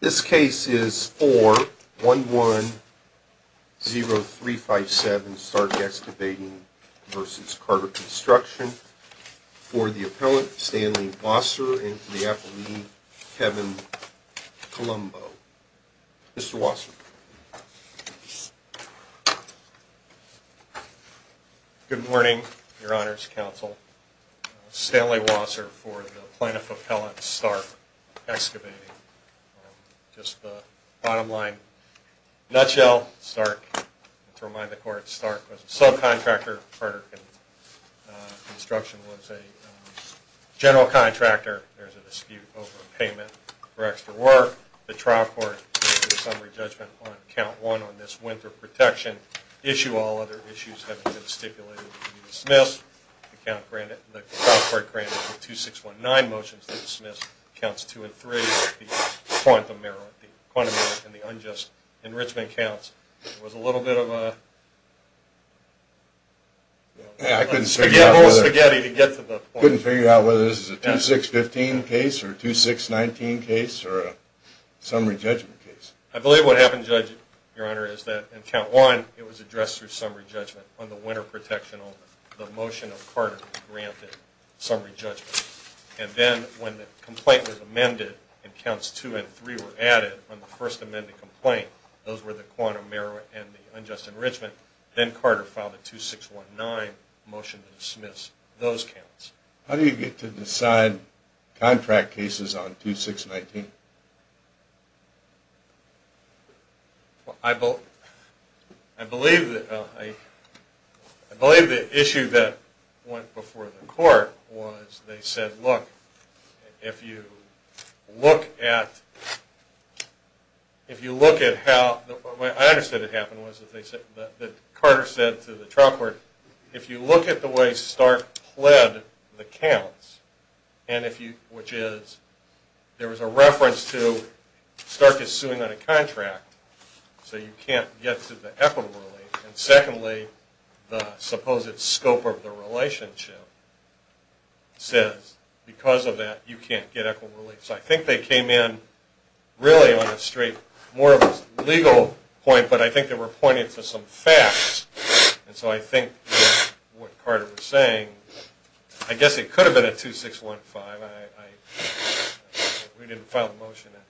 This case is 4-110-357 Stark Excavating v. Carter Construction for the Appellant Stanley Wasser and for the Appellant Kevin Colombo. Good morning, Your Honors Counsel. Stanley Wasser for the Plaintiff Appellant Stark Excavating. Just the bottom line. In a nutshell, Stark, to remind the Court, Stark was a subcontractor. Carter Construction was a general contractor. There's a dispute over a payment for extra work. The trial court gives a summary judgment on Count 1 on this winter protection. Issue all other issues having been stipulated to be dismissed. The trial court granted the 2619 motions to dismiss Counts 2 and 3, the quantum error and the unjust enrichment counts. It was a little bit of a... I couldn't figure out whether this is a 2615 case or a 2619 case or a summary judgment case. I believe what happened, Judge, Your Honor, is that in Count 1, it was addressed through summary judgment. On the winter protection, the motion of Carter granted summary judgment. And then when the complaint was amended and Counts 2 and 3 were added on the first amended complaint, those were the quantum error and the unjust enrichment, then Carter filed a 2619 motion to dismiss those counts. How do you get to decide contract cases on 2619? I believe the issue that went before the court was they said, look, if you look at how... I understood what happened was that Carter said to the trial court, if you look at the way Stark pled the counts, which is there was a reference to Stark is suing on a contract, so you can't get to the equitable relief. And secondly, the supposed scope of the relationship says because of that, you can't get equitable relief. So I think they came in really on a straight, more of a legal point, but I think they were pointing to some facts. And so I think what Carter was saying, I guess it could have been a 2615. We didn't file the motion. It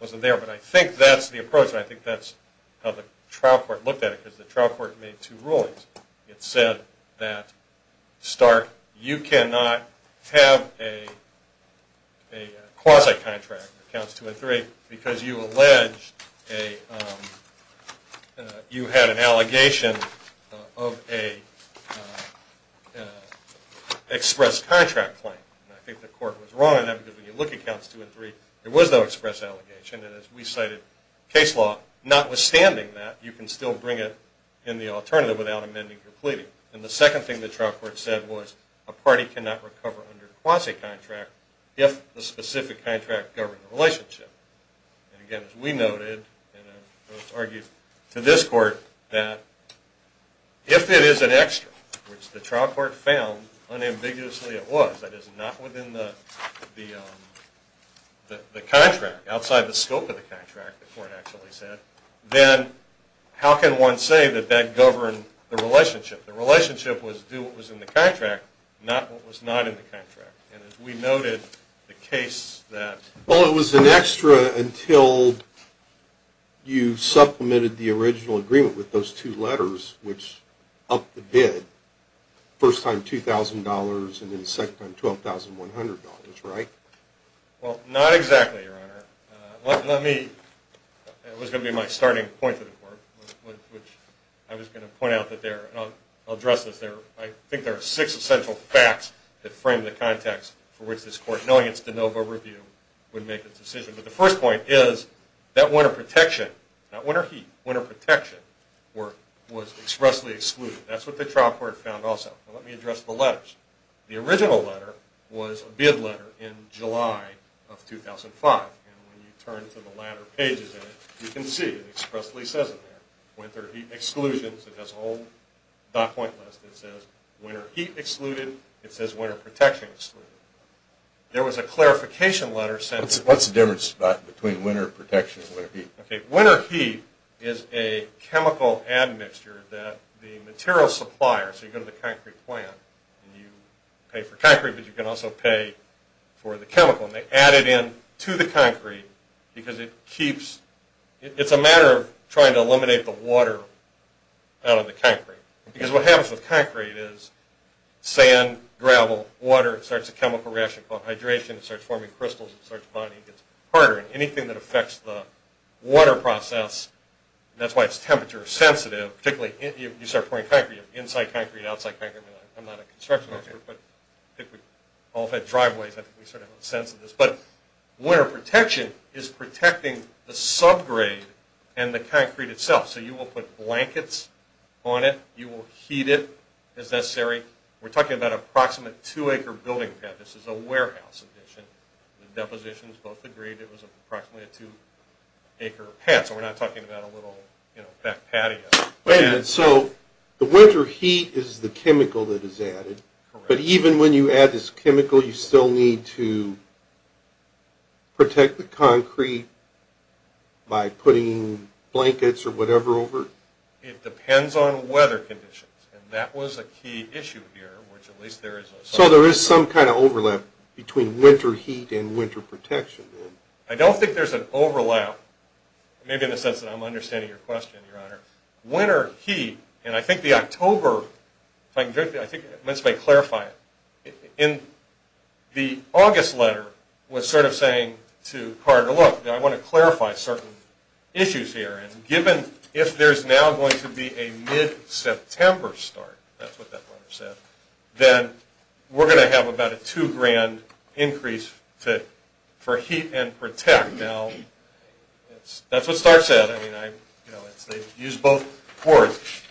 wasn't there. But I think that's the approach, and I think that's how the trial court looked at it, because the trial court made two rulings. It said that Stark, you cannot have a quasi-contract, Counts 2 and 3, because you had an allegation of an express contract claim. And I think the court was wrong on that, because when you look at Counts 2 and 3, there was no express allegation. And as we cited case law, notwithstanding that, you can still bring it in the alternative without amending your pleading. And the second thing the trial court said was a party cannot recover under a quasi-contract if the specific contract governed the relationship. And again, as we noted, and it was argued to this court, that if it is an extra, which the trial court found unambiguously it was, that is, not within the contract, outside the scope of the contract, the court actually said, then how can one say that that governed the relationship? The relationship was do what was in the contract, not what was not in the contract. And as we noted, the case that – Well, it was an extra until you supplemented the original agreement with those two letters, which upped the bid, first time $2,000 and then second time $12,100, right? Well, not exactly, Your Honor. Let me – it was going to be my starting point to the court, which I was going to point out that there – and I'll address this there. I think there are six essential facts that frame the context for which this court, knowing its de novo review, would make its decision. But the first point is that winter protection, that winter heat, winter protection, was expressly excluded. That's what the trial court found also. Now let me address the letters. The original letter was a bid letter in July of 2005. And when you turn to the latter pages of it, you can see it expressly says it there, winter heat exclusions. It has a whole dot point list. It says winter heat excluded. It says winter protection excluded. There was a clarification letter sent – What's the difference between winter protection and winter heat? Okay, winter heat is a chemical admixture that the material supplier – so you go to the concrete plant and you pay for concrete, but you can also pay for the chemical. And they add it in to the concrete because it keeps – it's a matter of trying to eliminate the water out of the concrete. Because what happens with concrete is sand, gravel, water, it starts a chemical reaction called hydration. It starts forming crystals. It starts bonding. It gets harder. And anything that affects the water process, that's why it's temperature sensitive, particularly if you start pouring concrete, inside concrete, outside concrete. I'm not a construction expert, but I think we all have had driveways. I think we sort of have a sense of this. But winter protection is protecting the subgrade and the concrete itself. So you will put blankets on it. You will heat it as necessary. We're talking about an approximate 2-acre building pad. This is a warehouse addition. The depositions both agreed it was approximately a 2-acre pad, so we're not talking about a little back patio. Wait a minute. So the winter heat is the chemical that is added. Correct. But even when you add this chemical, you still need to protect the concrete by putting blankets or whatever over it? It depends on weather conditions, and that was a key issue here. So there is some kind of overlap between winter heat and winter protection. I don't think there's an overlap, but winter heat, and I think the October, if I can just clarify it, in the August letter was sort of saying to Carter, look, I want to clarify certain issues here, and given if there's now going to be a mid-September start, that's what that letter said, then we're going to have about a two-grand increase for heat and protect. Now, that's what START said. They used both words.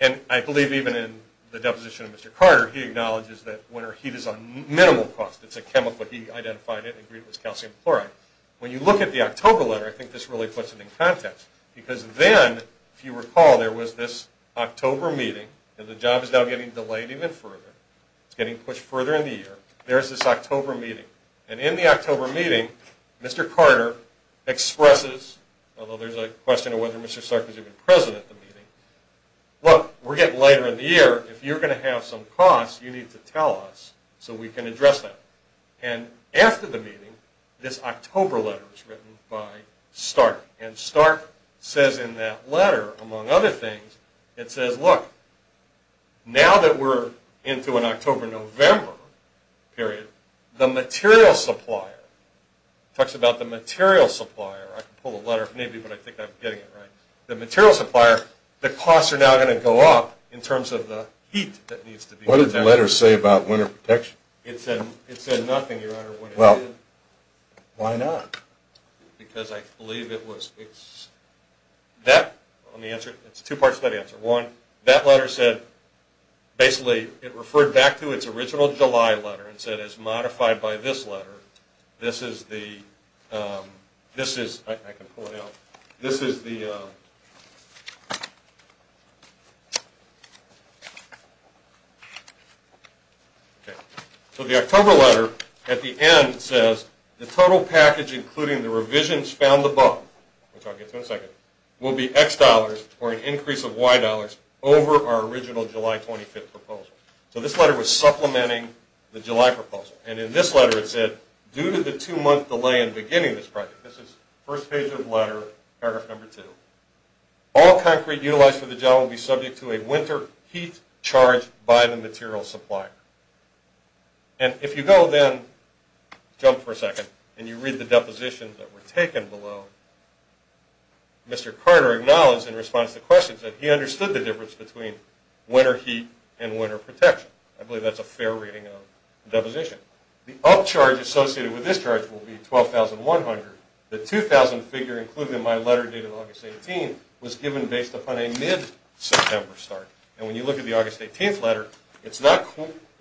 And I believe even in the deposition of Mr. Carter, he acknowledges that winter heat is on minimal cost. It's a chemical. He identified it and agreed it was calcium chloride. When you look at the October letter, I think this really puts it in context because then, if you recall, there was this October meeting, and the job is now getting delayed even further. It's getting pushed further in the year. There's this October meeting, and in the October meeting, Mr. Carter expresses, although there's a question of whether Mr. Stark was even present at the meeting, look, we're getting later in the year. If you're going to have some costs, you need to tell us so we can address that. And after the meeting, this October letter was written by Stark, and Stark says in that letter, among other things, it says, look, now that we're into an October-November period, the material supplier, he talks about the material supplier. I can pull a letter if need be, but I think I'm getting it right. The material supplier, the costs are now going to go up in terms of the heat that needs to be protected. What did the letter say about winter protection? It said nothing, Your Honor. Well, why not? Because I believe it was, it's, that, let me answer it. It's two parts to that answer. One, that letter said, basically, it referred back to its original July letter and said, as modified by this letter, this is the, this is, I can pull it out, this is the, so the October letter at the end says, the total package including the revisions found above, which I'll get to in a second, will be X dollars or an increase of Y dollars over our original July 25th proposal. So this letter was supplementing the July proposal. And in this letter it said, due to the two-month delay in beginning this project, this is first page of the letter, paragraph number two, all concrete utilized for the job will be subject to a winter heat charge by the material supplier. And if you go then, jump for a second, and you read the depositions that were taken below, Mr. Carter acknowledged, in response to questions, that he understood the difference between winter heat and winter protection. I believe that's a fair reading of the deposition. The upcharge associated with this charge will be 12,100. The 2,000 figure included in my letter dated August 18th was given based upon a mid-September start. And when you look at the August 18th letter, it's not,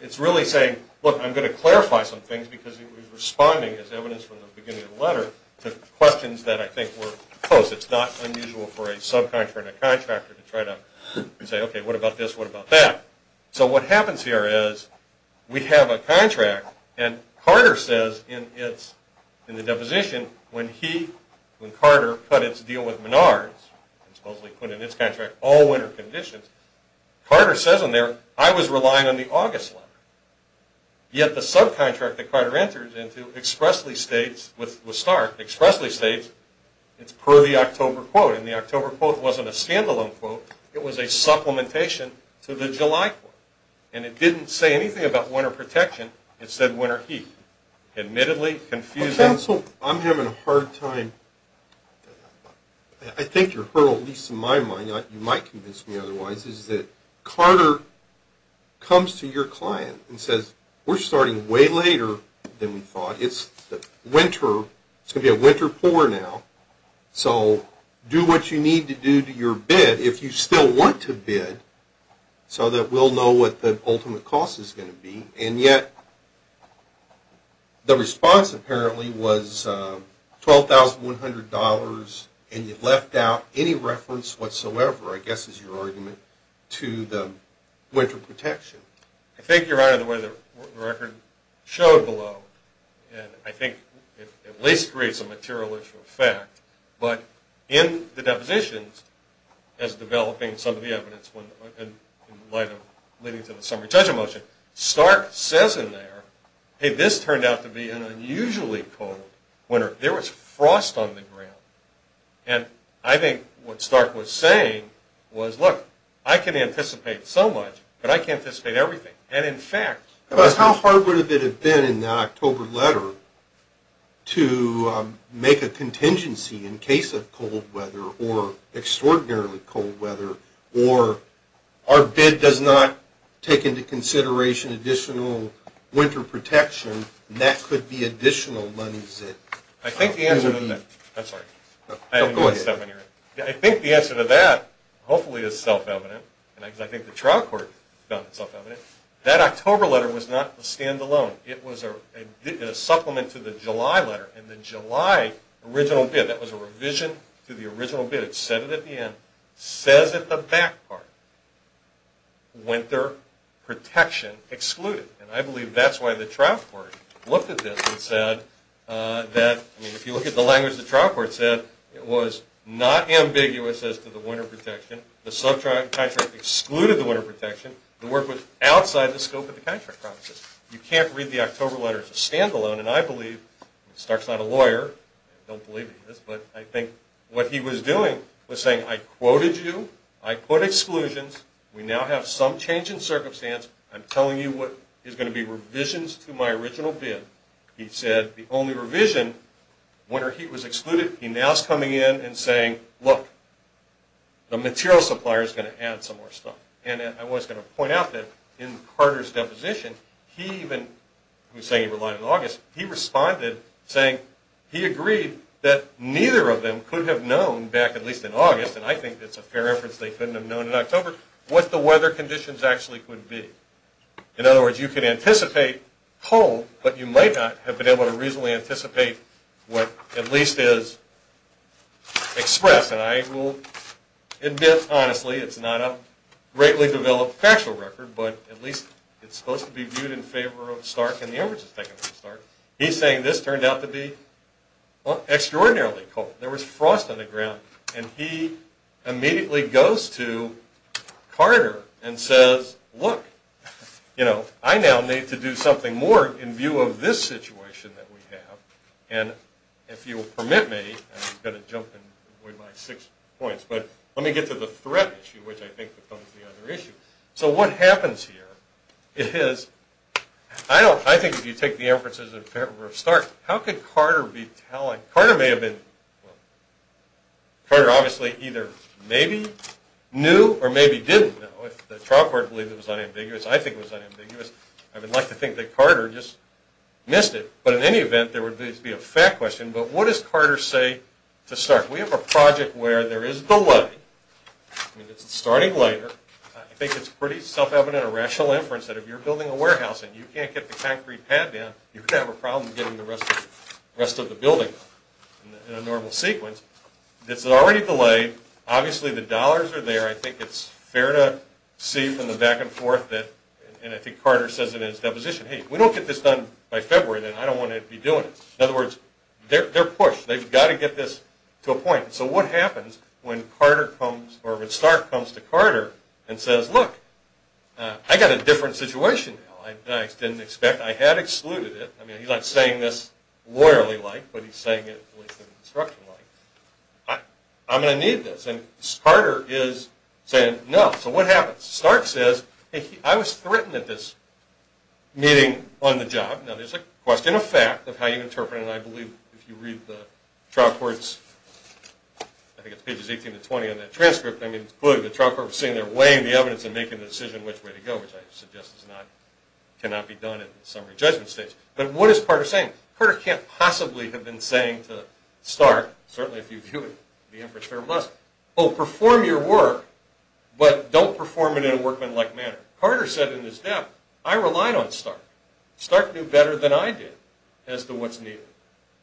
it's really saying, look, I'm going to clarify some things because it was responding, as evidenced from the beginning of the letter, to questions that I think were close. It's not unusual for a subcontractor and a contractor to try to say, okay, what about this, what about that? So what happens here is we have a contract, and Carter says in the deposition when he, when Carter, cut its deal with Menards and supposedly put in its contract all winter conditions, Carter says in there, I was relying on the August letter. Yet the subcontract that Carter enters into expressly states, with Stark, expressly states it's per the October quote. And the October quote wasn't a standalone quote. It was a supplementation to the July quote. And it didn't say anything about winter protection. It said winter heat. Admittedly confusing. Counsel, I'm having a hard time. I think your hurdle, at least in my mind, you might convince me otherwise, is that Carter comes to your client and says, we're starting way later than we thought. It's winter. It's going to be a winter pour now. So do what you need to do to your bid, if you still want to bid, so that we'll know what the ultimate cost is going to be. And yet the response apparently was $12,100, and you left out any reference whatsoever, I guess is your argument, to the winter protection. I think, Your Honor, the way the record showed below, I think it at least creates a materialistic effect. But in the depositions, as developing some of the evidence, in light of leading to the summary judgment motion, Stark says in there, hey, this turned out to be an unusually cold winter. There was frost on the ground. And I think what Stark was saying was, look, I can anticipate so much, but I can't anticipate everything. And, in fact, how hard would it have been in the October letter to make a contingency in case of cold weather or extraordinarily cold weather or our bid does not take into consideration additional winter protection, and that could be additional money zipped. I think the answer to that, hopefully, is self-evident. And I think the trial court found it self-evident. That October letter was not a standalone. It was a supplement to the July letter. In the July original bid, that was a revision to the original bid. It said it at the end, says at the back part, winter protection excluded. And I believe that's why the trial court looked at this and said that, I mean, if you look at the language the trial court said, it was not ambiguous as to the winter protection. The subcontractor excluded the winter protection. The word was outside the scope of the contract promises. You can't read the October letter as a standalone. And I believe, and Stark's not a lawyer, I don't believe he is, but I think what he was doing was saying, I quoted you. I put exclusions. We now have some change in circumstance. I'm telling you what is going to be revisions to my original bid. He said the only revision, winter heat was excluded. He now is coming in and saying, look, the material supplier is going to add some more stuff. And I was going to point out that in Carter's deposition, he even, he was saying he relied on August, he responded saying he agreed that neither of them could have known, back at least in August, and I think that's a fair inference, they couldn't have known in October, what the weather conditions actually could be. In other words, you could anticipate cold, but you might not have been able to reasonably anticipate what at least is expressed. And I will admit, honestly, it's not a greatly developed factual record, but at least it's supposed to be viewed in favor of Stark, and the average is taken from Stark. He's saying this turned out to be extraordinarily cold. There was frost on the ground. And he immediately goes to Carter and says, look, you know, I now need to do something more in view of this situation that we have, and if you will permit me, I'm going to jump and avoid my six points, but let me get to the threat issue, which I think becomes the other issue. So what happens here is, I think if you take the inferences in favor of Stark, how could Carter be telling, Carter may have been, Carter obviously either maybe knew or maybe didn't know, but the trial court believed it was unambiguous. I think it was unambiguous. I would like to think that Carter just missed it. But in any event, there would at least be a fact question, but what does Carter say to Stark? We have a project where there is delay. I mean, it's starting later. I think it's pretty self-evident or rational inference that if you're building a warehouse and you can't get the concrete pad down, you're going to have a problem getting the rest of the building in a normal sequence. It's already delayed. Obviously, the dollars are there. I think it's fair to see from the back and forth that, and I think Carter says it in his deposition, hey, if we don't get this done by February, then I don't want to be doing it. In other words, they're pushed. They've got to get this to a point. So what happens when Carter comes, or when Stark comes to Carter and says, look, I've got a different situation now than I didn't expect. I had excluded it. I mean, he's not saying this lawyerly-like, but he's saying it construction-like. I'm going to need this. And Carter is saying no. So what happens? Stark says, hey, I was threatened at this meeting on the job. Now, there's a question of fact of how you interpret it, and I believe if you read the trial court's, I think it's pages 18 to 20 on that transcript, I mean, clearly the trial court was saying they're weighing the evidence and making the decision which way to go, which I suggest cannot be done at the summary judgment stage. But what is Carter saying? Carter can't possibly have been saying to Stark, certainly if you view it, the inference there must, oh, perform your work, but don't perform it in a workmanlike manner. Carter said in his death, I relied on Stark. Stark knew better than I did as to what's needed.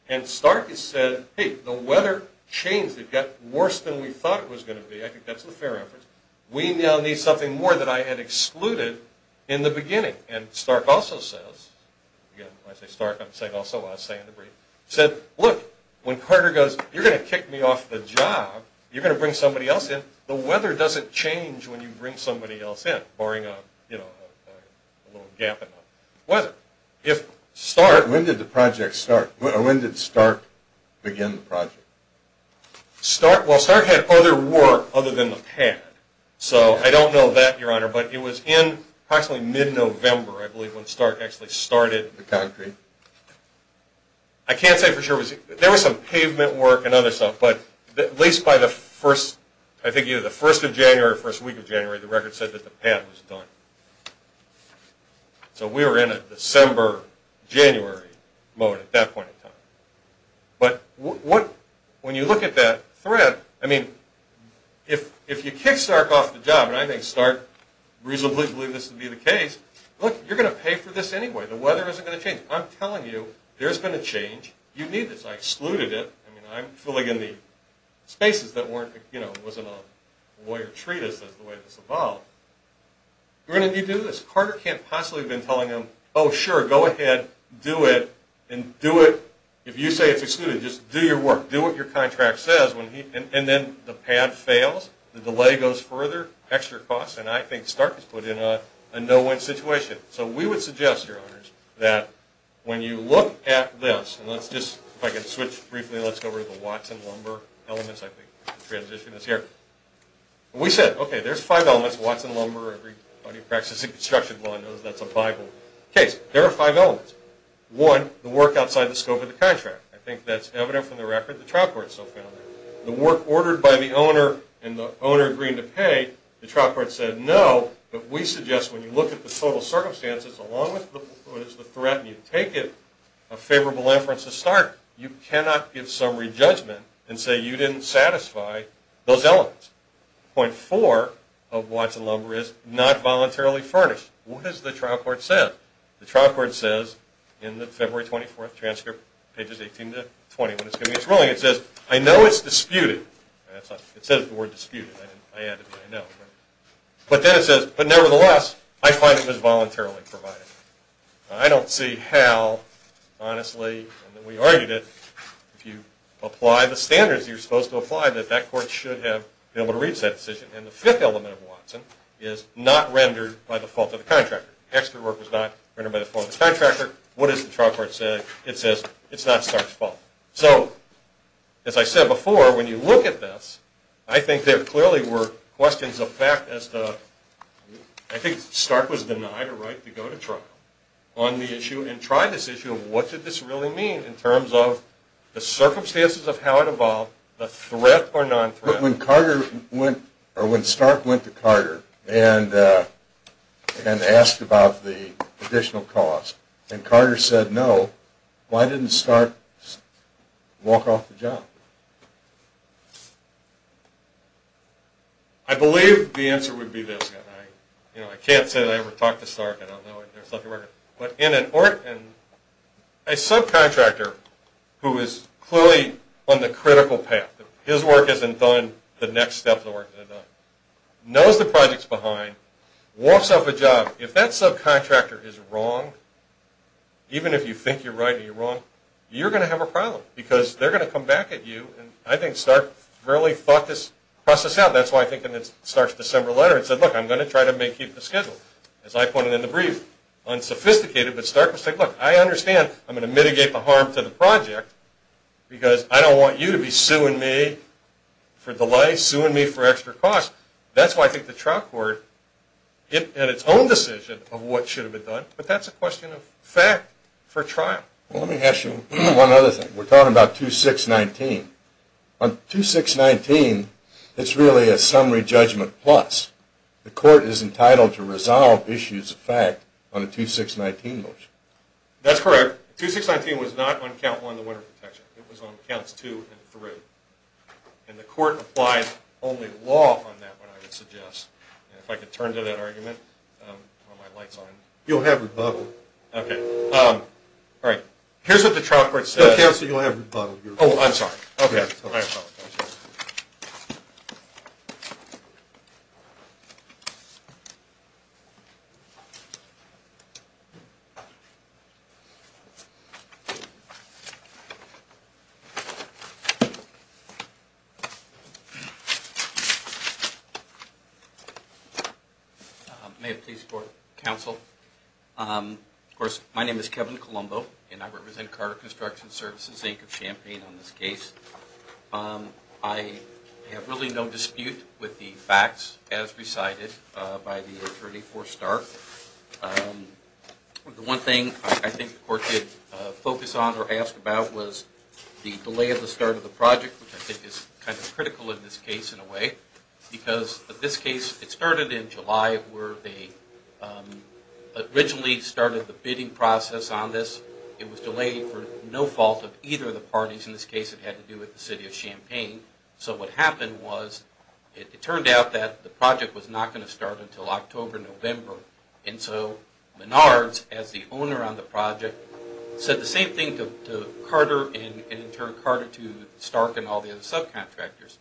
And Stark has said, hey, the weather changed. It got worse than we thought it was going to be. I think that's the fair inference. We now need something more that I had excluded in the beginning. And Stark also says, again, when I say Stark, I'm saying also I say in the brief, said, look, when Carter goes, you're going to kick me off the job, you're going to bring somebody else in, the weather doesn't change when you bring somebody else in, barring a little gap in the weather. When did Stark begin the project? Well, Stark had other work other than the pad. So I don't know that, Your Honor, but it was in approximately mid-November, I believe, when Stark actually started the concrete. I can't say for sure. There was some pavement work and other stuff, but at least by the first, I think either the first of January or the first week of January, the record said that the pad was done. So we were in a December, January moment at that point in time. But when you look at that thread, I mean, if you kick Stark off the job, and I think Stark reasonably believed this to be the case, look, you're going to pay for this anyway. The weather isn't going to change. I'm telling you, there's going to change. You need this. I excluded it. I mean, I'm filling in the spaces that weren't, you know, it wasn't a lawyer treatise, that's the way this evolved. We're going to need to do this. Carter can't possibly have been telling him, oh, sure, go ahead, do it, and do it, if you say it's excluded, just do your work. Do what your contract says. And then the pad fails, the delay goes further, extra costs, and I think Stark is put in a no-win situation. So we would suggest, Your Honors, that when you look at this, and let's just, if I can switch briefly, let's go over to the watts and lumber elements, I think, transition is here. We said, okay, there's five elements, watts and lumber, everybody who practices in construction law knows that's a Bible case. There are five elements. One, the work outside the scope of the contract. I think that's evident from the record. The trial court still found that. The work ordered by the owner and the owner agreeing to pay, the trial court said no, but we suggest when you look at the total circumstances, along with what is the threat and you take it, a favorable inference is Stark. You cannot give summary judgment and say you didn't satisfy those elements. Point four of watts and lumber is not voluntarily furnished. What has the trial court said? The trial court says in the February 24th transcript, pages 18 to 20, when it's going to be its ruling, it says, I know it's disputed. It says the word disputed. I added I know. But then it says, but nevertheless, I find it was voluntarily provided. I don't see how, honestly, and we argued it, if you apply the standards you're supposed to apply, that that court should have been able to reach that decision. And the fifth element of watts and is not rendered by the fault of the contractor. Extra work was not rendered by the fault of the contractor. What does the trial court say? It says it's not Stark's fault. So, as I said before, when you look at this, I think there clearly were questions of fact as to, I think Stark was denied a right to go to trial on the issue and tried this issue of what did this really mean in terms of the circumstances of how it evolved, the threat or non-threat. But when Stark went to Carter and asked about the additional cost and Carter said no, why didn't Stark walk off the job? I believe the answer would be this, and I can't say that I ever talked to Stark, and I don't know if there's a record, but in a subcontractor who is clearly on the critical path, his work isn't done, the next step in the work isn't done, knows the project's behind, walks off a job, if that subcontractor is wrong, even if you think you're right or you're wrong, you're going to have a problem because they're going to come back at you and I think Stark really thought this process out. That's why I think in Stark's December letter it said, look, I'm going to try to make you the schedule. As I pointed in the brief, unsophisticated, but Stark was like, look, I understand I'm going to mitigate the harm to the project because I don't want you to be suing me for delays, suing me for extra costs. That's why I think the trial court, in its own decision, of what should have been done, but that's a question of fact for trial. Let me ask you one other thing. We're talking about 2619. On 2619, it's really a summary judgment plus. The court is entitled to resolve issues of fact on a 2619 motion. That's correct. 2619 was not on Count 1, the winter protection. It was on Counts 2 and 3. The court applies only law on that one, I would suggest. If I could turn to that argument while my light's on. You'll have rebuttal. Okay. All right. Here's what the trial court says. No, counsel, you'll have rebuttal. Oh, I'm sorry. Okay. I apologize. May it please the court, counsel. Of course, my name is Kevin Colombo, and I represent Carter Construction Services, Inc. of Champaign on this case. I have really no dispute with the facts as recited by the attorney for Stark. The one thing I think the court did focus on or ask about was the delay of the start of the project, which I think is kind of critical in this case in a way, where they originally started the bidding process on this. It was delayed for no fault of either of the parties. In this case, it had to do with the city of Champaign. So what happened was it turned out that the project was not going to start until October, November. And so Menards, as the owner on the project, said the same thing to Carter and in turn Carter to Stark and all the other subcontractors.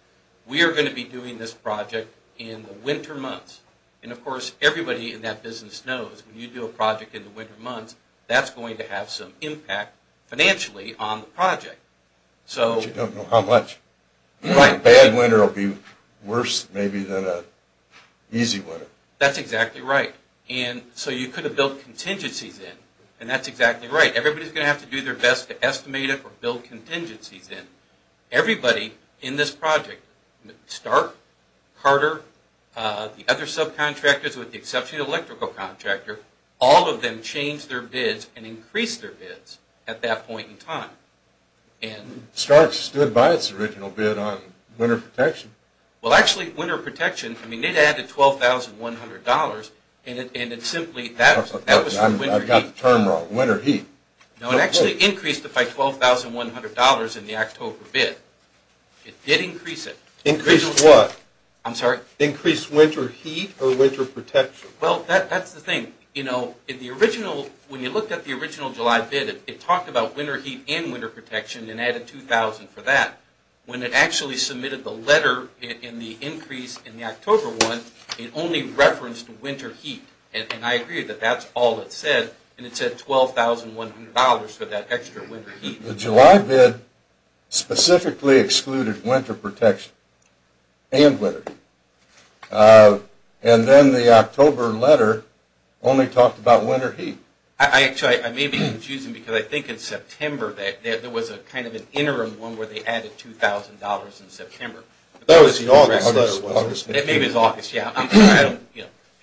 We are going to be doing this project in the winter months. And, of course, everybody in that business knows when you do a project in the winter months, that's going to have some impact financially on the project. But you don't know how much. Right. A bad winter will be worse maybe than an easy winter. That's exactly right. And so you could have built contingencies in. And that's exactly right. Everybody is going to have to do their best to estimate it or build contingencies in. Everybody in this project, Stark, Carter, the other subcontractors with the exception of the electrical contractor, all of them changed their bids and increased their bids at that point in time. Stark stood by its original bid on winter protection. Well, actually, winter protection, I mean, it added $12,100 and it simply that was the winter heat. I've got the term wrong, winter heat. No, it actually increased it by $12,100 in the October bid. It did increase it. Increased what? I'm sorry? Increased winter heat or winter protection? Well, that's the thing. You know, when you looked at the original July bid, it talked about winter heat and winter protection and added $2,000 for that. When it actually submitted the letter in the increase in the October one, it only referenced winter heat. And I agree that that's all it said. And it said $12,100 for that extra winter heat. The July bid specifically excluded winter protection and winter heat. And then the October letter only talked about winter heat. Actually, I may be confusing because I think in September there was kind of an interim one where they added $2,000 in September. That was the August letter. Maybe it was August, yeah.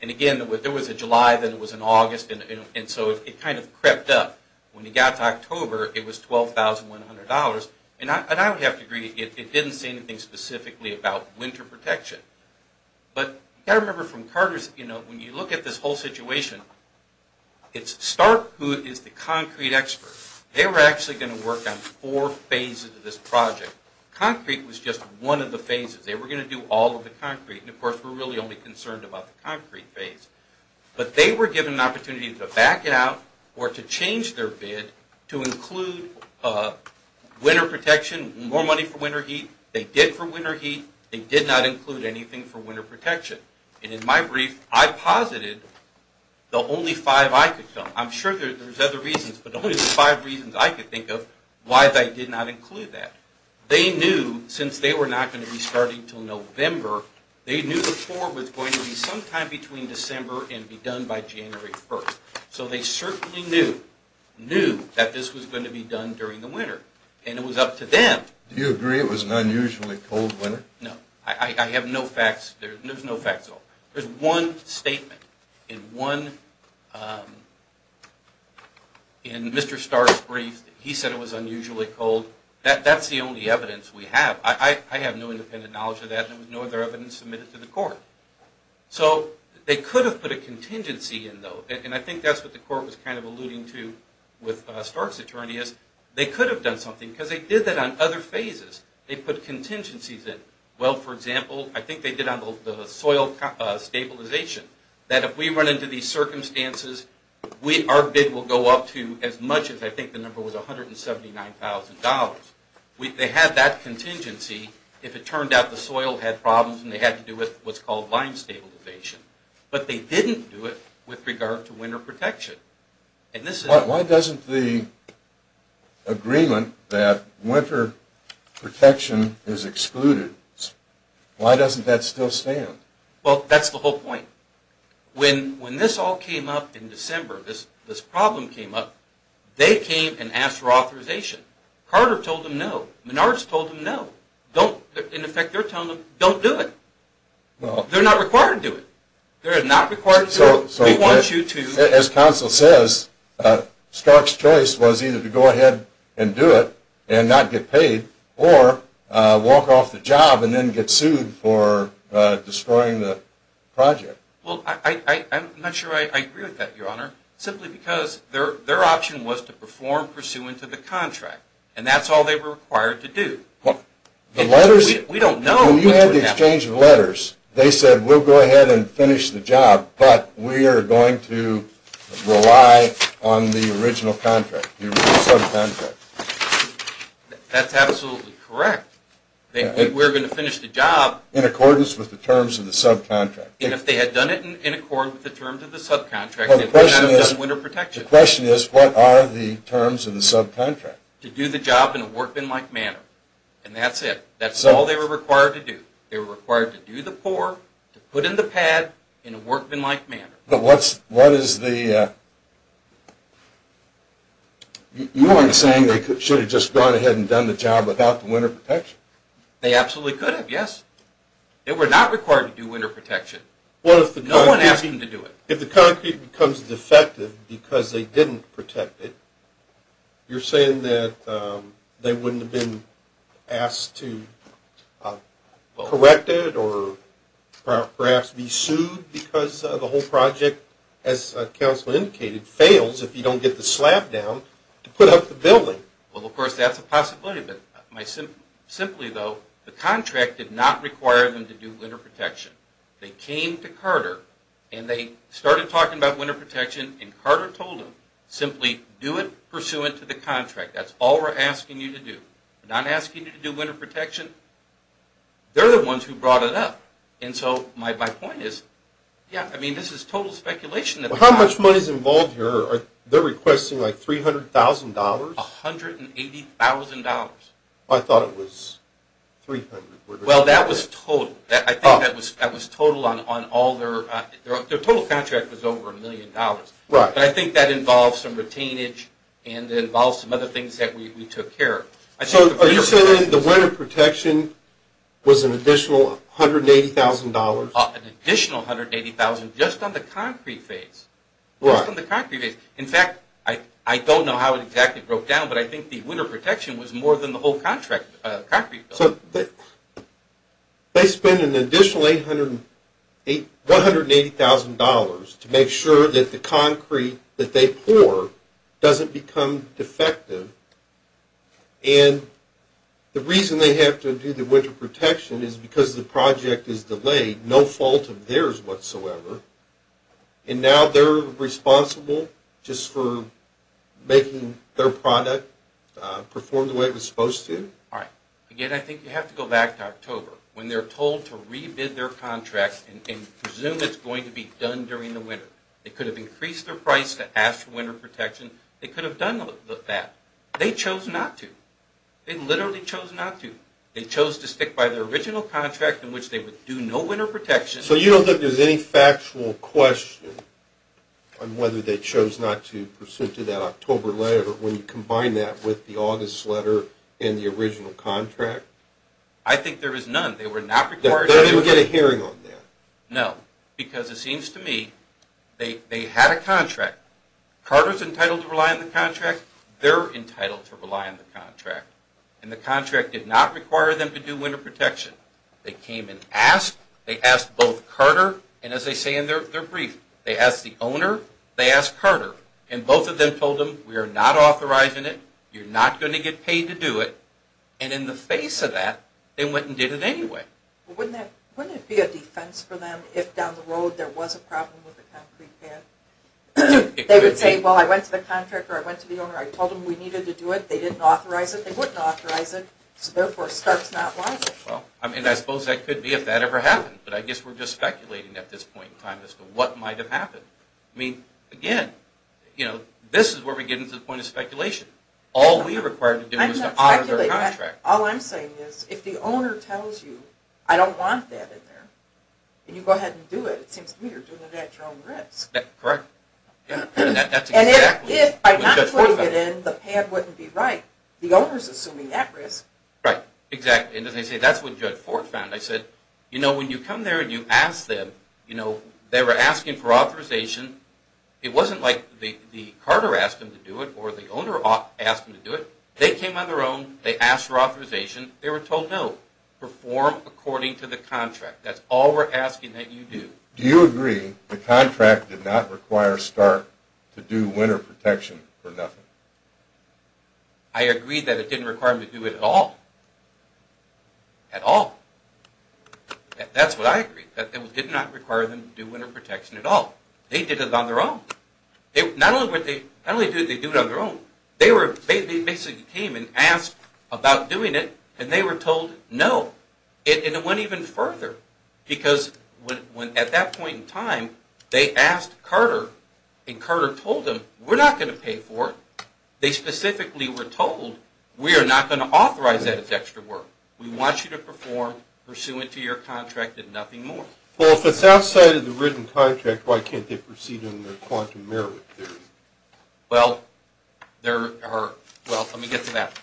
And again, there was a July, then there was an August. And so it kind of crept up. When it got to October, it was $12,100. And I would have to agree it didn't say anything specifically about winter protection. But I remember from Carter's, you know, when you look at this whole situation, it's Stark who is the concrete expert. They were actually going to work on four phases of this project. Concrete was just one of the phases. They were going to do all of the concrete. And, of course, we're really only concerned about the concrete phase. But they were given an opportunity to back it out or to change their bid to include winter protection, more money for winter heat. They did for winter heat. They did not include anything for winter protection. And in my brief, I posited the only five I could think of. I'm sure there's other reasons, but the only five reasons I could think of why they did not include that. They knew, since they were not going to be starting until November, they knew the floor was going to be sometime between December and be done by January 1st. So they certainly knew, knew that this was going to be done during the winter. And it was up to them. Do you agree it was an unusually cold winter? No. I have no facts. There's no facts at all. There's one statement in one, in Mr. Stark's brief. He said it was unusually cold. That's the only evidence we have. I have no independent knowledge of that. There was no other evidence submitted to the court. So they could have put a contingency in, though. And I think that's what the court was kind of alluding to with Stark's attorney, is they could have done something, because they did that on other phases. They put contingencies in. Well, for example, I think they did on the soil stabilization, that if we run into these circumstances, our bid will go up to as much as I think the number was $179,000. They had that contingency if it turned out the soil had problems and they had to do with what's called lime stabilization. But they didn't do it with regard to winter protection. Why doesn't the agreement that winter protection is excluded, why doesn't that still stand? Well, that's the whole point. When this all came up in December, this problem came up, they came and asked for authorization. Carter told them no. Menards told them no. In effect, they're telling them, don't do it. They're not required to do it. They're not required to do it. We want you to. As counsel says, Stark's choice was either to go ahead and do it and not get Well, I'm not sure I agree with that, Your Honor, simply because their option was to perform pursuant to the contract, and that's all they were required to do. When you had the exchange of letters, they said, we'll go ahead and finish the job, but we are going to rely on the original contract, the original subcontract. That's absolutely correct. We're going to finish the job. In accordance with the terms of the subcontract. And if they had done it in accordance with the terms of the subcontract, they would not have winter protection. The question is, what are the terms of the subcontract? To do the job in a workmanlike manner. And that's it. That's all they were required to do. They were required to do the pour, to put in the pad, in a workmanlike manner. But what is the, you aren't saying they should have just gone ahead and done the job without the winter protection? They absolutely could have, yes. They were not required to do winter protection. No one asked them to do it. If the concrete becomes defective because they didn't protect it, you're saying that they wouldn't have been asked to correct it or perhaps be sued because the whole project, as counsel indicated, fails if you don't get the slab down to put up the building. Well, of course, that's a possibility. Simply though, the contract did not require them to do winter protection. They came to Carter and they started talking about winter protection and Carter told them, simply do it pursuant to the contract. That's all we're asking you to do. We're not asking you to do winter protection. They're the ones who brought it up. And so my point is, yeah, I mean, this is total speculation. How much money is involved here? They're requesting like $300,000? $180,000. I thought it was $300,000. Well, that was total. I think that was total on all their – their total contract was over $1 million. Right. But I think that involves some retainage and involves some other things that we took care of. Are you saying the winter protection was an additional $180,000? An additional $180,000 just on the concrete phase. Right. Just on the concrete phase. In fact, I don't know how it exactly broke down, but I think the winter protection was more than the whole concrete bill. So they spend an additional $180,000 to make sure that the concrete that they pour doesn't become defective, and the reason they have to do the winter protection is because the project is delayed, no fault of theirs whatsoever, and now they're responsible just for making their product perform the way it was supposed to? All right. Again, I think you have to go back to October when they're told to re-bid their contract and presume it's going to be done during the winter. They could have increased their price to ask for winter protection. They could have done that. They chose not to. They literally chose not to. They chose to stick by their original contract in which they would do no winter protection. So you don't think there's any factual question on whether they chose not to pursuant to that October letter when you combine that with the August letter and the original contract? I think there is none. They were not required to do winter protection. They didn't get a hearing on that? No, because it seems to me they had a contract. Carter's entitled to rely on the contract. They're entitled to rely on the contract, and the contract did not require them to do winter protection. They came and asked. They asked both Carter, and as they say in their brief, they asked the owner, they asked Carter, and both of them told them, we are not authorizing it, you're not going to get paid to do it, and in the face of that, they went and did it anyway. Wouldn't it be a defense for them if down the road there was a problem with the concrete pad? They would say, well, I went to the contractor, I went to the owner, I told them we needed to do it, they didn't authorize it, they wouldn't authorize it, so therefore it starts not liable. I suppose that could be if that ever happened, but I guess we're just speculating at this point in time as to what might have happened. Again, this is where we get into the point of speculation. All we were required to do was to honor their contract. All I'm saying is, if the owner tells you, I don't want that in there, and you go ahead and do it, it seems to me you're doing it at your own risk. Correct. And if by not throwing it in, the pad wouldn't be right, the owner's assuming that risk. Right, exactly. And as I say, that's what Judge Ford found. I said, you know, when you come there and you ask them, they were asking for authorization, it wasn't like the carter asked them to do it or the owner asked them to do it. They came on their own, they asked for authorization, they were told, no, perform according to the contract. That's all we're asking that you do. Do you agree the contract did not require Stark to do winter protection for nothing? I agree that it didn't require them to do it at all. At all. That's what I agree, that it did not require them to do winter protection at all. They did it on their own. Not only did they do it on their own, they basically came and asked about doing it and they were told, no. And it went even further because at that point in time, they asked Carter and Carter told them, we're not going to pay for it. They specifically were told, we are not going to authorize that as extra work. We want you to perform pursuant to your contract and nothing more. Well, if it's outside of the written contract, why can't they proceed under quantum merit theory? Well, there are, well, let me get to that.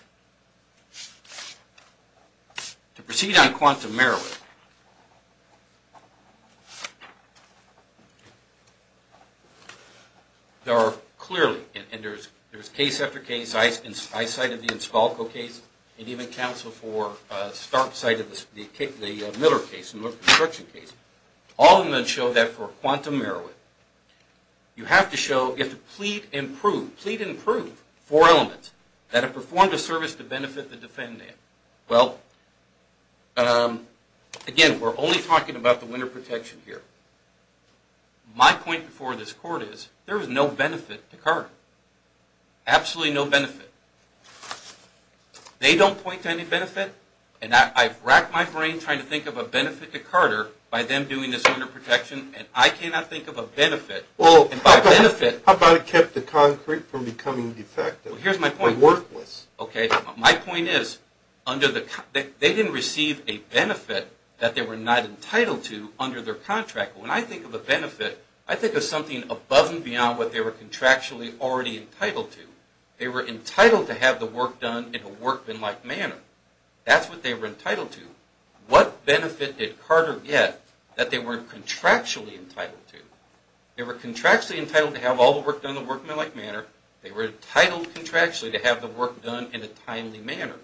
To proceed on quantum merit, there are clearly, and there's case after case, I cited the Inspalco case and even counsel for Stark cited the Miller case, the construction case. All of them show that for quantum merit, you have to show, you have to plead and prove, four elements that have performed a service to benefit the defendant. Well, again, we're only talking about the winter protection here. My point before this court is, there is no benefit to Carter. Absolutely no benefit. They don't point to any benefit and I've racked my brain trying to think of a benefit to Carter by them doing this winter protection and I cannot think of a benefit. How about it kept the concrete from becoming defective or worthless? My point is, they didn't receive a benefit that they were not entitled to under their contract. When I think of a benefit, I think of something above and beyond what they were contractually already entitled to. They were entitled to have the work done in a workmanlike manner. That's what they were entitled to. What benefit did Carter get that they weren't contractually entitled to? They were contractually entitled to have all the work done in a workmanlike manner. They were entitled contractually to have the work done in a timely manner.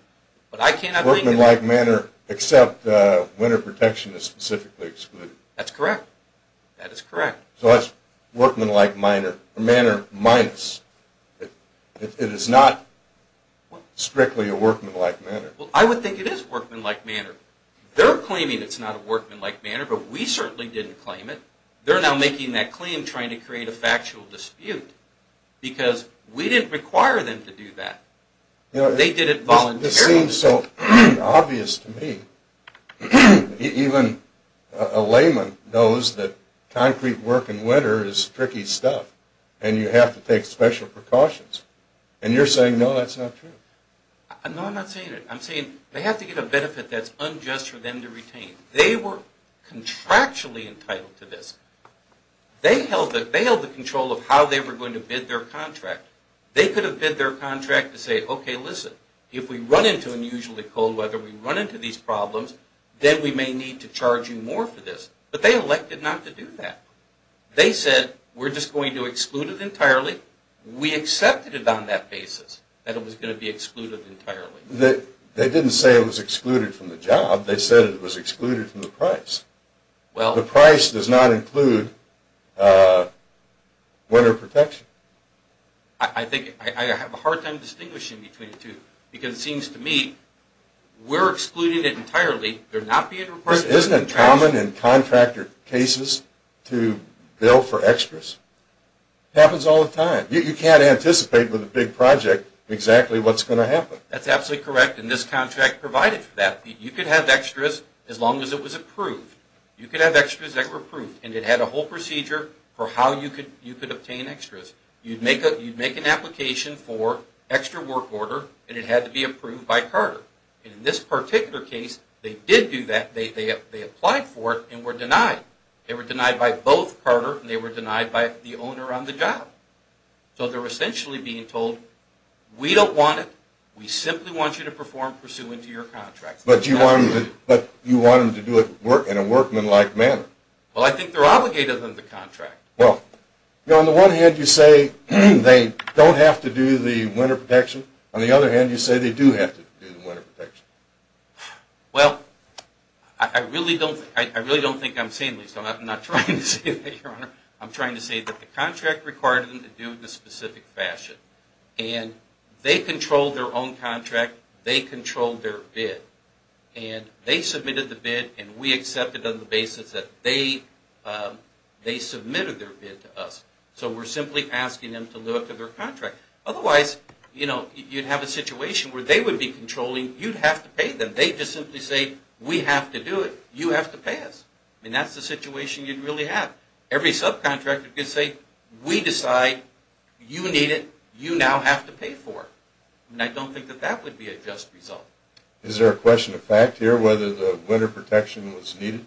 Workmanlike manner except winter protection is specifically excluded. That's correct. That is correct. So that's workmanlike manner minus. It is not strictly a workmanlike manner. I would think it is workmanlike manner. They're claiming it's not a workmanlike manner but we certainly didn't claim it. They're now making that claim trying to create a factual dispute because we didn't require them to do that. They did it voluntarily. It seems so obvious to me. Even a layman knows that concrete work in winter is tricky stuff and you have to take special precautions and you're saying no, that's not true. No, I'm not saying it. I'm saying they have to get a benefit that's unjust for them to retain. They were contractually entitled to this. They held the control of how they were going to bid their contract. They could have bid their contract to say, okay, listen, if we run into unusually cold weather, we run into these problems, then we may need to charge you more for this. But they elected not to do that. They said we're just going to exclude it entirely. We accepted it on that basis that it was going to be excluded entirely. They didn't say it was excluded from the job. They said it was excluded from the price. The price does not include winter protection. I have a hard time distinguishing between the two because it seems to me we're excluding it entirely. Isn't it common in contractor cases to bill for extras? It happens all the time. You can't anticipate with a big project exactly what's going to happen. That's absolutely correct, and this contract provided for that. You could have extras as long as it was approved. You could have extras that were approved, and it had a whole procedure for how you could obtain extras. You'd make an application for extra work order, and it had to be approved by Carter. In this particular case, they did do that. They applied for it and were denied. They were denied by both Carter, and they were denied by the owner on the job. So they're essentially being told, we don't want it, we simply want you to perform pursuant to your contract. But you want them to do it in a workmanlike manner. Well, I think they're obligated under the contract. Well, on the one hand, you say they don't have to do the winter protection. On the other hand, you say they do have to do the winter protection. Well, I really don't think I'm saying this. I'm not trying to say that, Your Honor. I'm trying to say that the contract required them to do it in a specific fashion, and they controlled their own contract. They controlled their bid, and they submitted the bid, and we accepted on the basis that they submitted their bid to us. So we're simply asking them to look at their contract. Otherwise, you'd have a situation where they would be controlling, you'd have to pay them. They'd just simply say, we have to do it, you have to pay us. And that's the situation you'd really have. Every subcontractor could say, we decide, you need it, you now have to pay for it. And I don't think that that would be a just result. Is there a question of fact here, whether the winter protection was needed?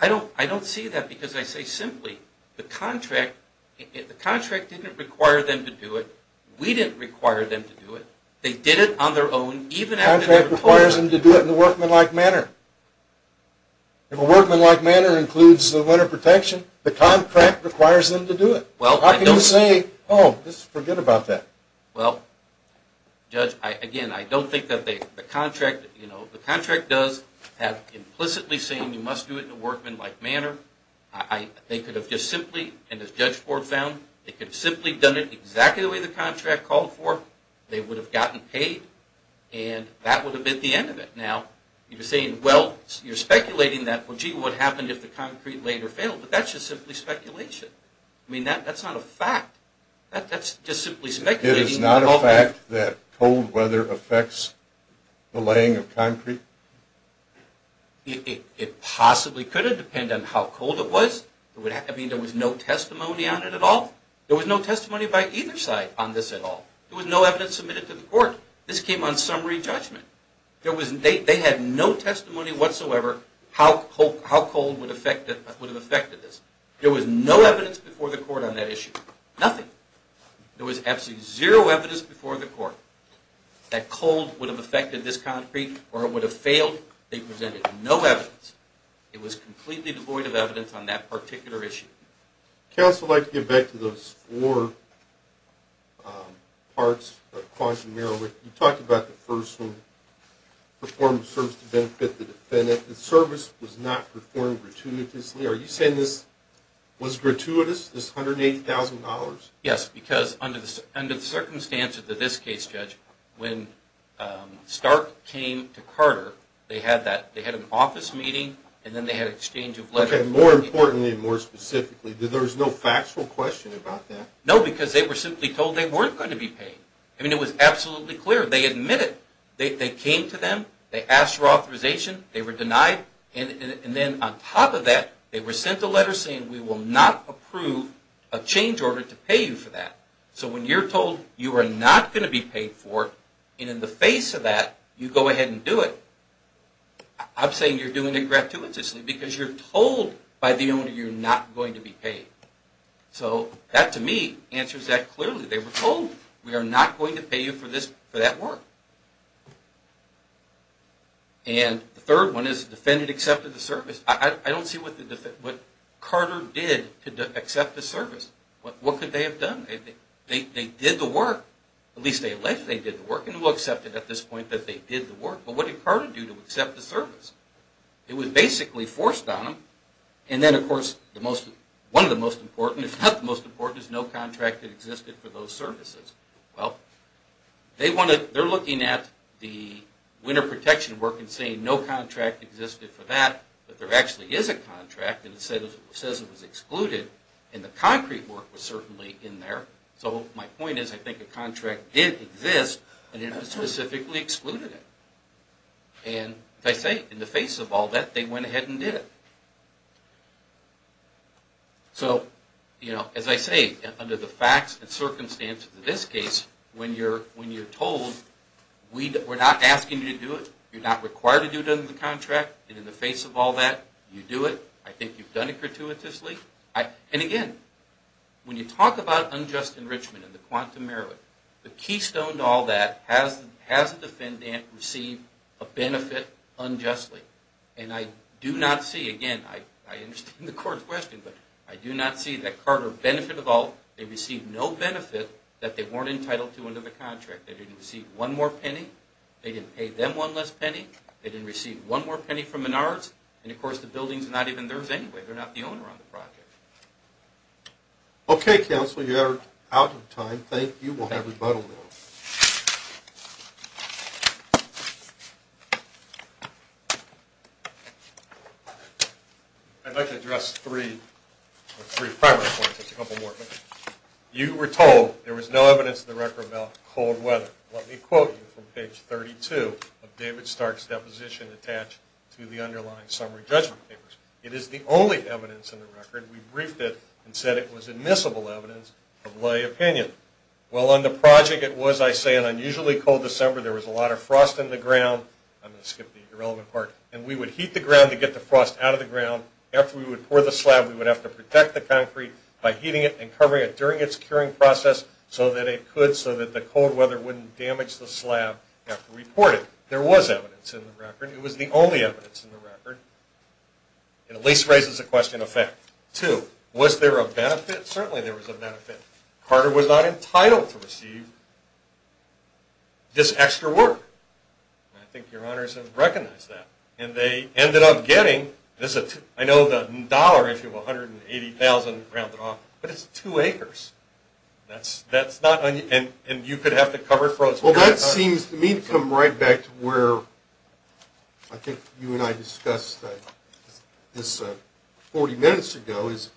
I don't see that because I say simply, the contract didn't require them to do it, we didn't require them to do it. They did it on their own, even after they were told to. The contract requires them to do it in a workmanlike manner. If a workmanlike manner includes the winter protection, the contract requires them to do it. How can you say, oh, just forget about that? Well, Judge, again, I don't think that the contract, you know, the contract does have implicitly saying you must do it in a workmanlike manner. They could have just simply, and as Judge Ford found, they could have simply done it exactly the way the contract called for, they would have gotten paid, and that would have been the end of it. Now, you're saying, well, you're speculating that, well, gee, what happened if the concrete later failed? But that's just simply speculation. I mean, that's not a fact. That's just simply speculating. It is not a fact that cold weather affects the laying of concrete? It possibly could have depended on how cold it was. I mean, there was no testimony on it at all. There was no testimony by either side on this at all. There was no evidence submitted to the court. This came on summary judgment. They had no testimony whatsoever how cold would have affected this. There was no evidence before the court on that issue, nothing. There was absolutely zero evidence before the court that cold would have affected this concrete or it would have failed. They presented no evidence. It was completely devoid of evidence on that particular issue. Counsel, I'd like to get back to those four parts of Quagmire. You talked about the first one, perform service to benefit the defendant. The service was not performed gratuitously. Are you saying this was gratuitous, this $180,000? Yes, because under the circumstances of this case, Judge, when Stark came to Carter, they had an office meeting, and then they had an exchange of letters. Okay, more importantly and more specifically, there was no factual question about that? No, because they were simply told they weren't going to be paid. I mean, it was absolutely clear. They admitted. They came to them. They asked for authorization. They were denied. And then on top of that, they were sent a letter saying, we will not approve a change order to pay you for that. So when you're told you are not going to be paid for it, and in the face of that, you go ahead and do it, I'm saying you're doing it gratuitously because you're told by the owner you're not going to be paid. So that, to me, answers that clearly. They were told, we are not going to pay you for that work. And the third one is the defendant accepted the service. I don't see what Carter did to accept the service. What could they have done? They did the work. At least they alleged they did the work, and who accepted at this point that they did the work? But what did Carter do to accept the service? It was basically forced on them. And then, of course, one of the most important, if not the most important, is no contract had existed for those services. Well, they're looking at the winter protection work and saying no contract existed for that, but there actually is a contract, and it says it was excluded, and the concrete work was certainly in there. So my point is I think a contract did exist, but it specifically excluded it. And as I say, in the face of all that, they went ahead and did it. So, you know, as I say, under the facts and circumstances of this case, when you're told we're not asking you to do it, you're not required to do it under the contract, and in the face of all that, you do it, I think you've done it gratuitously. And again, when you talk about unjust enrichment and the quantum merit, the keystone to all that, has the defendant received a benefit unjustly? And I do not see, again, I understand the court's question, but I do not see that Carter, benefit of all, they received no benefit that they weren't entitled to under the contract. They didn't receive one more penny, they didn't pay them one less penny, they didn't receive one more penny from Menards, and of course the building's not even theirs anyway, they're not the owner on the project. Okay, counsel, you are out of time. Thank you. We'll have rebuttal now. I'd like to address three primary points, just a couple more. You were told there was no evidence in the record about cold weather. Let me quote you from page 32 of David Stark's deposition attached to the underlying summary judgment papers. It is the only evidence in the record. We briefed it and said it was admissible evidence of lay opinion. Well, on the project it was, I say, an unusually cold December. There was a lot of frost in the ground. I'm going to skip the irrelevant part. And we would heat the ground to get the frost out of the ground. After we would pour the slab, we would have to protect the concrete by heating it and covering it during its curing process, so that it could, so that the cold weather wouldn't damage the slab after reporting. There was evidence in the record. It was the only evidence in the record. It at least raises the question of fact. Two, was there a benefit? Certainly there was a benefit. Carter was not entitled to receive this extra work. And I think your honors have recognized that. And they ended up getting, I know the dollar issue of 180,000, but it's two acres. And you could have the cover frozen. Well, that seems to me to come right back to where, I think you and I discussed this 40 minutes ago, is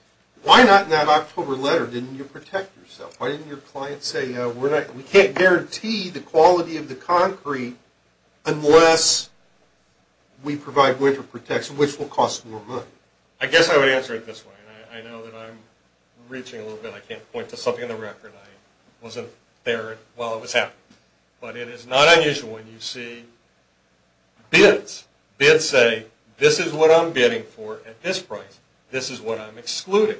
why not in that October letter, didn't you protect yourself? Why didn't your client say, we can't guarantee the quality of the concrete unless we provide winter protection, which will cost more money? I guess I would answer it this way. I know that I'm reaching a little bit. I can't point to something in the record. I wasn't there while it was happening. But it is not unusual when you see bids. Bids say, this is what I'm bidding for at this price. This is what I'm excluding.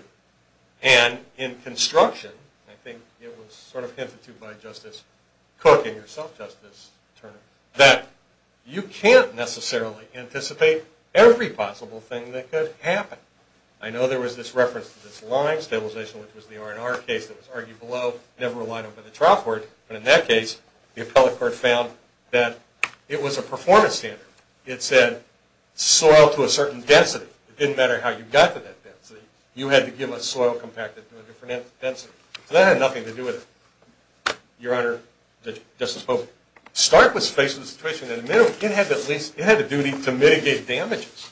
And in construction, I think it was sort of hinted to by Justice Cook and yourself, Justice Turner, that you can't necessarily anticipate every possible thing that could happen. I know there was this reference to this line stabilization, which was the R&R case that was argued below, never relied on by the trial court. But in that case, the appellate court found that it was a performance standard. It said soil to a certain density. It didn't matter how you got to that density. You had to give a soil compacted to a different density. So that had nothing to do with it, Your Honor, Justice Pope. Stark was faced with a situation in the middle. It had a duty to mitigate damages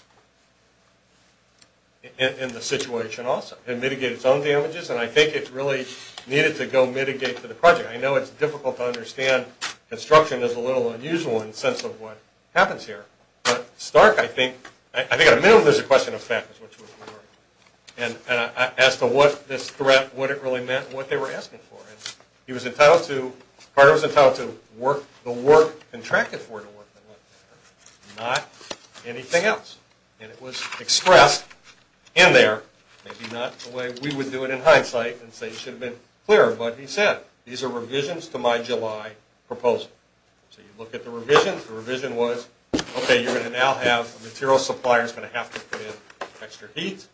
in the situation also and mitigate its own damages. And I think it really needed to go mitigate for the project. I know it's difficult to understand. Construction is a little unusual in the sense of what happens here. But Stark, I think, at a minimum, there's a question of fairness, which was important. And as to what this threat, what it really meant, what they were asking for. And he was entitled to, Carter was entitled to the work contracted for, not anything else. And it was expressed in there, maybe not the way we would do it in hindsight, and say it should have been clearer. But he said, these are revisions to my July proposal. So you look at the revisions. The revision was, okay, you're going to now have a material supplier that's going to have to put in extra heat.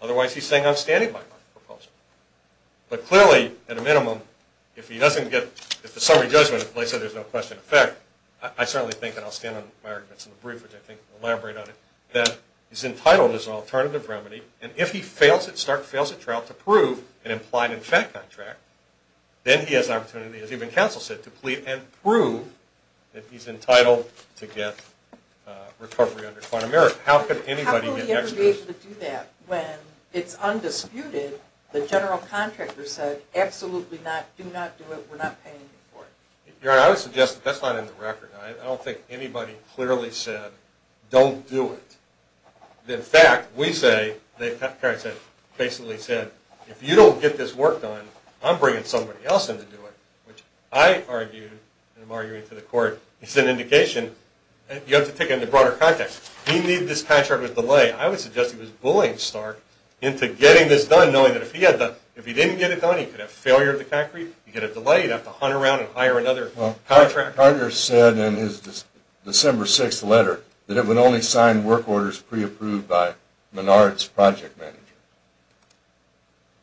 Otherwise, he's saying I'm standing by my proposal. But clearly, at a minimum, if he doesn't get, if the summary judgment, like I said, there's no question of fact, I certainly think, and I'll stand on my arguments in the brief, which I think will elaborate on it, that he's entitled as an alternative remedy. And if he fails at Stark, fails at Trout, to prove an implied in fact contract, then he has an opportunity, as even counsel said, to plead and prove that he's entitled to get recovery under quantum error. How could anybody get next to this? When it's undisputed, the general contractor said, absolutely not, do not do it, we're not paying you for it. Your Honor, I would suggest that that's not in the record. I don't think anybody clearly said, don't do it. In fact, we say, basically said, if you don't get this work done, I'm bringing somebody else in to do it. Which I argued, and I'm arguing to the court, is an indication, you have to take it into broader context. He made this contract with delay. I would suggest he was bullying Stark into getting this done, knowing that if he didn't get it done, he could have failure at the concrete, he'd get a delay, he'd have to hunt around and hire another contractor. Well, our partner said in his December 6th letter, that it would only sign work orders pre-approved by Menard's project manager.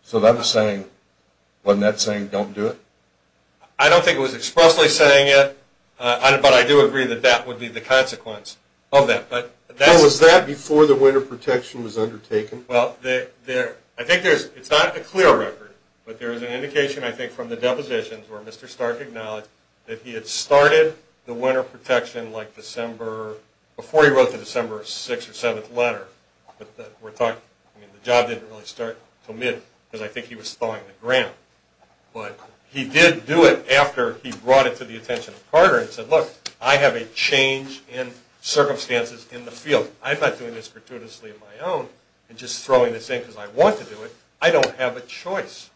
So that was saying, wasn't that saying, don't do it? I don't think it was expressly saying it, but I do agree that that would be the consequence of that. So was that before the winter protection was undertaken? Well, I think it's not a clear record, but there is an indication, I think, from the depositions, where Mr. Stark acknowledged that he had started the winter protection like December, before he wrote the December 6th or 7th letter, but the job didn't really start until mid, because I think he was thawing the ground. But he did do it after he brought it to the attention of Carter and said, look, I have a change in circumstances in the field. I'm not doing this gratuitously on my own, and just throwing this in because I want to do it. I don't have a choice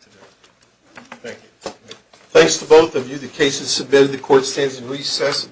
to do it. Thank you. Thanks to both of you. The case is submitted. The court stands in recess.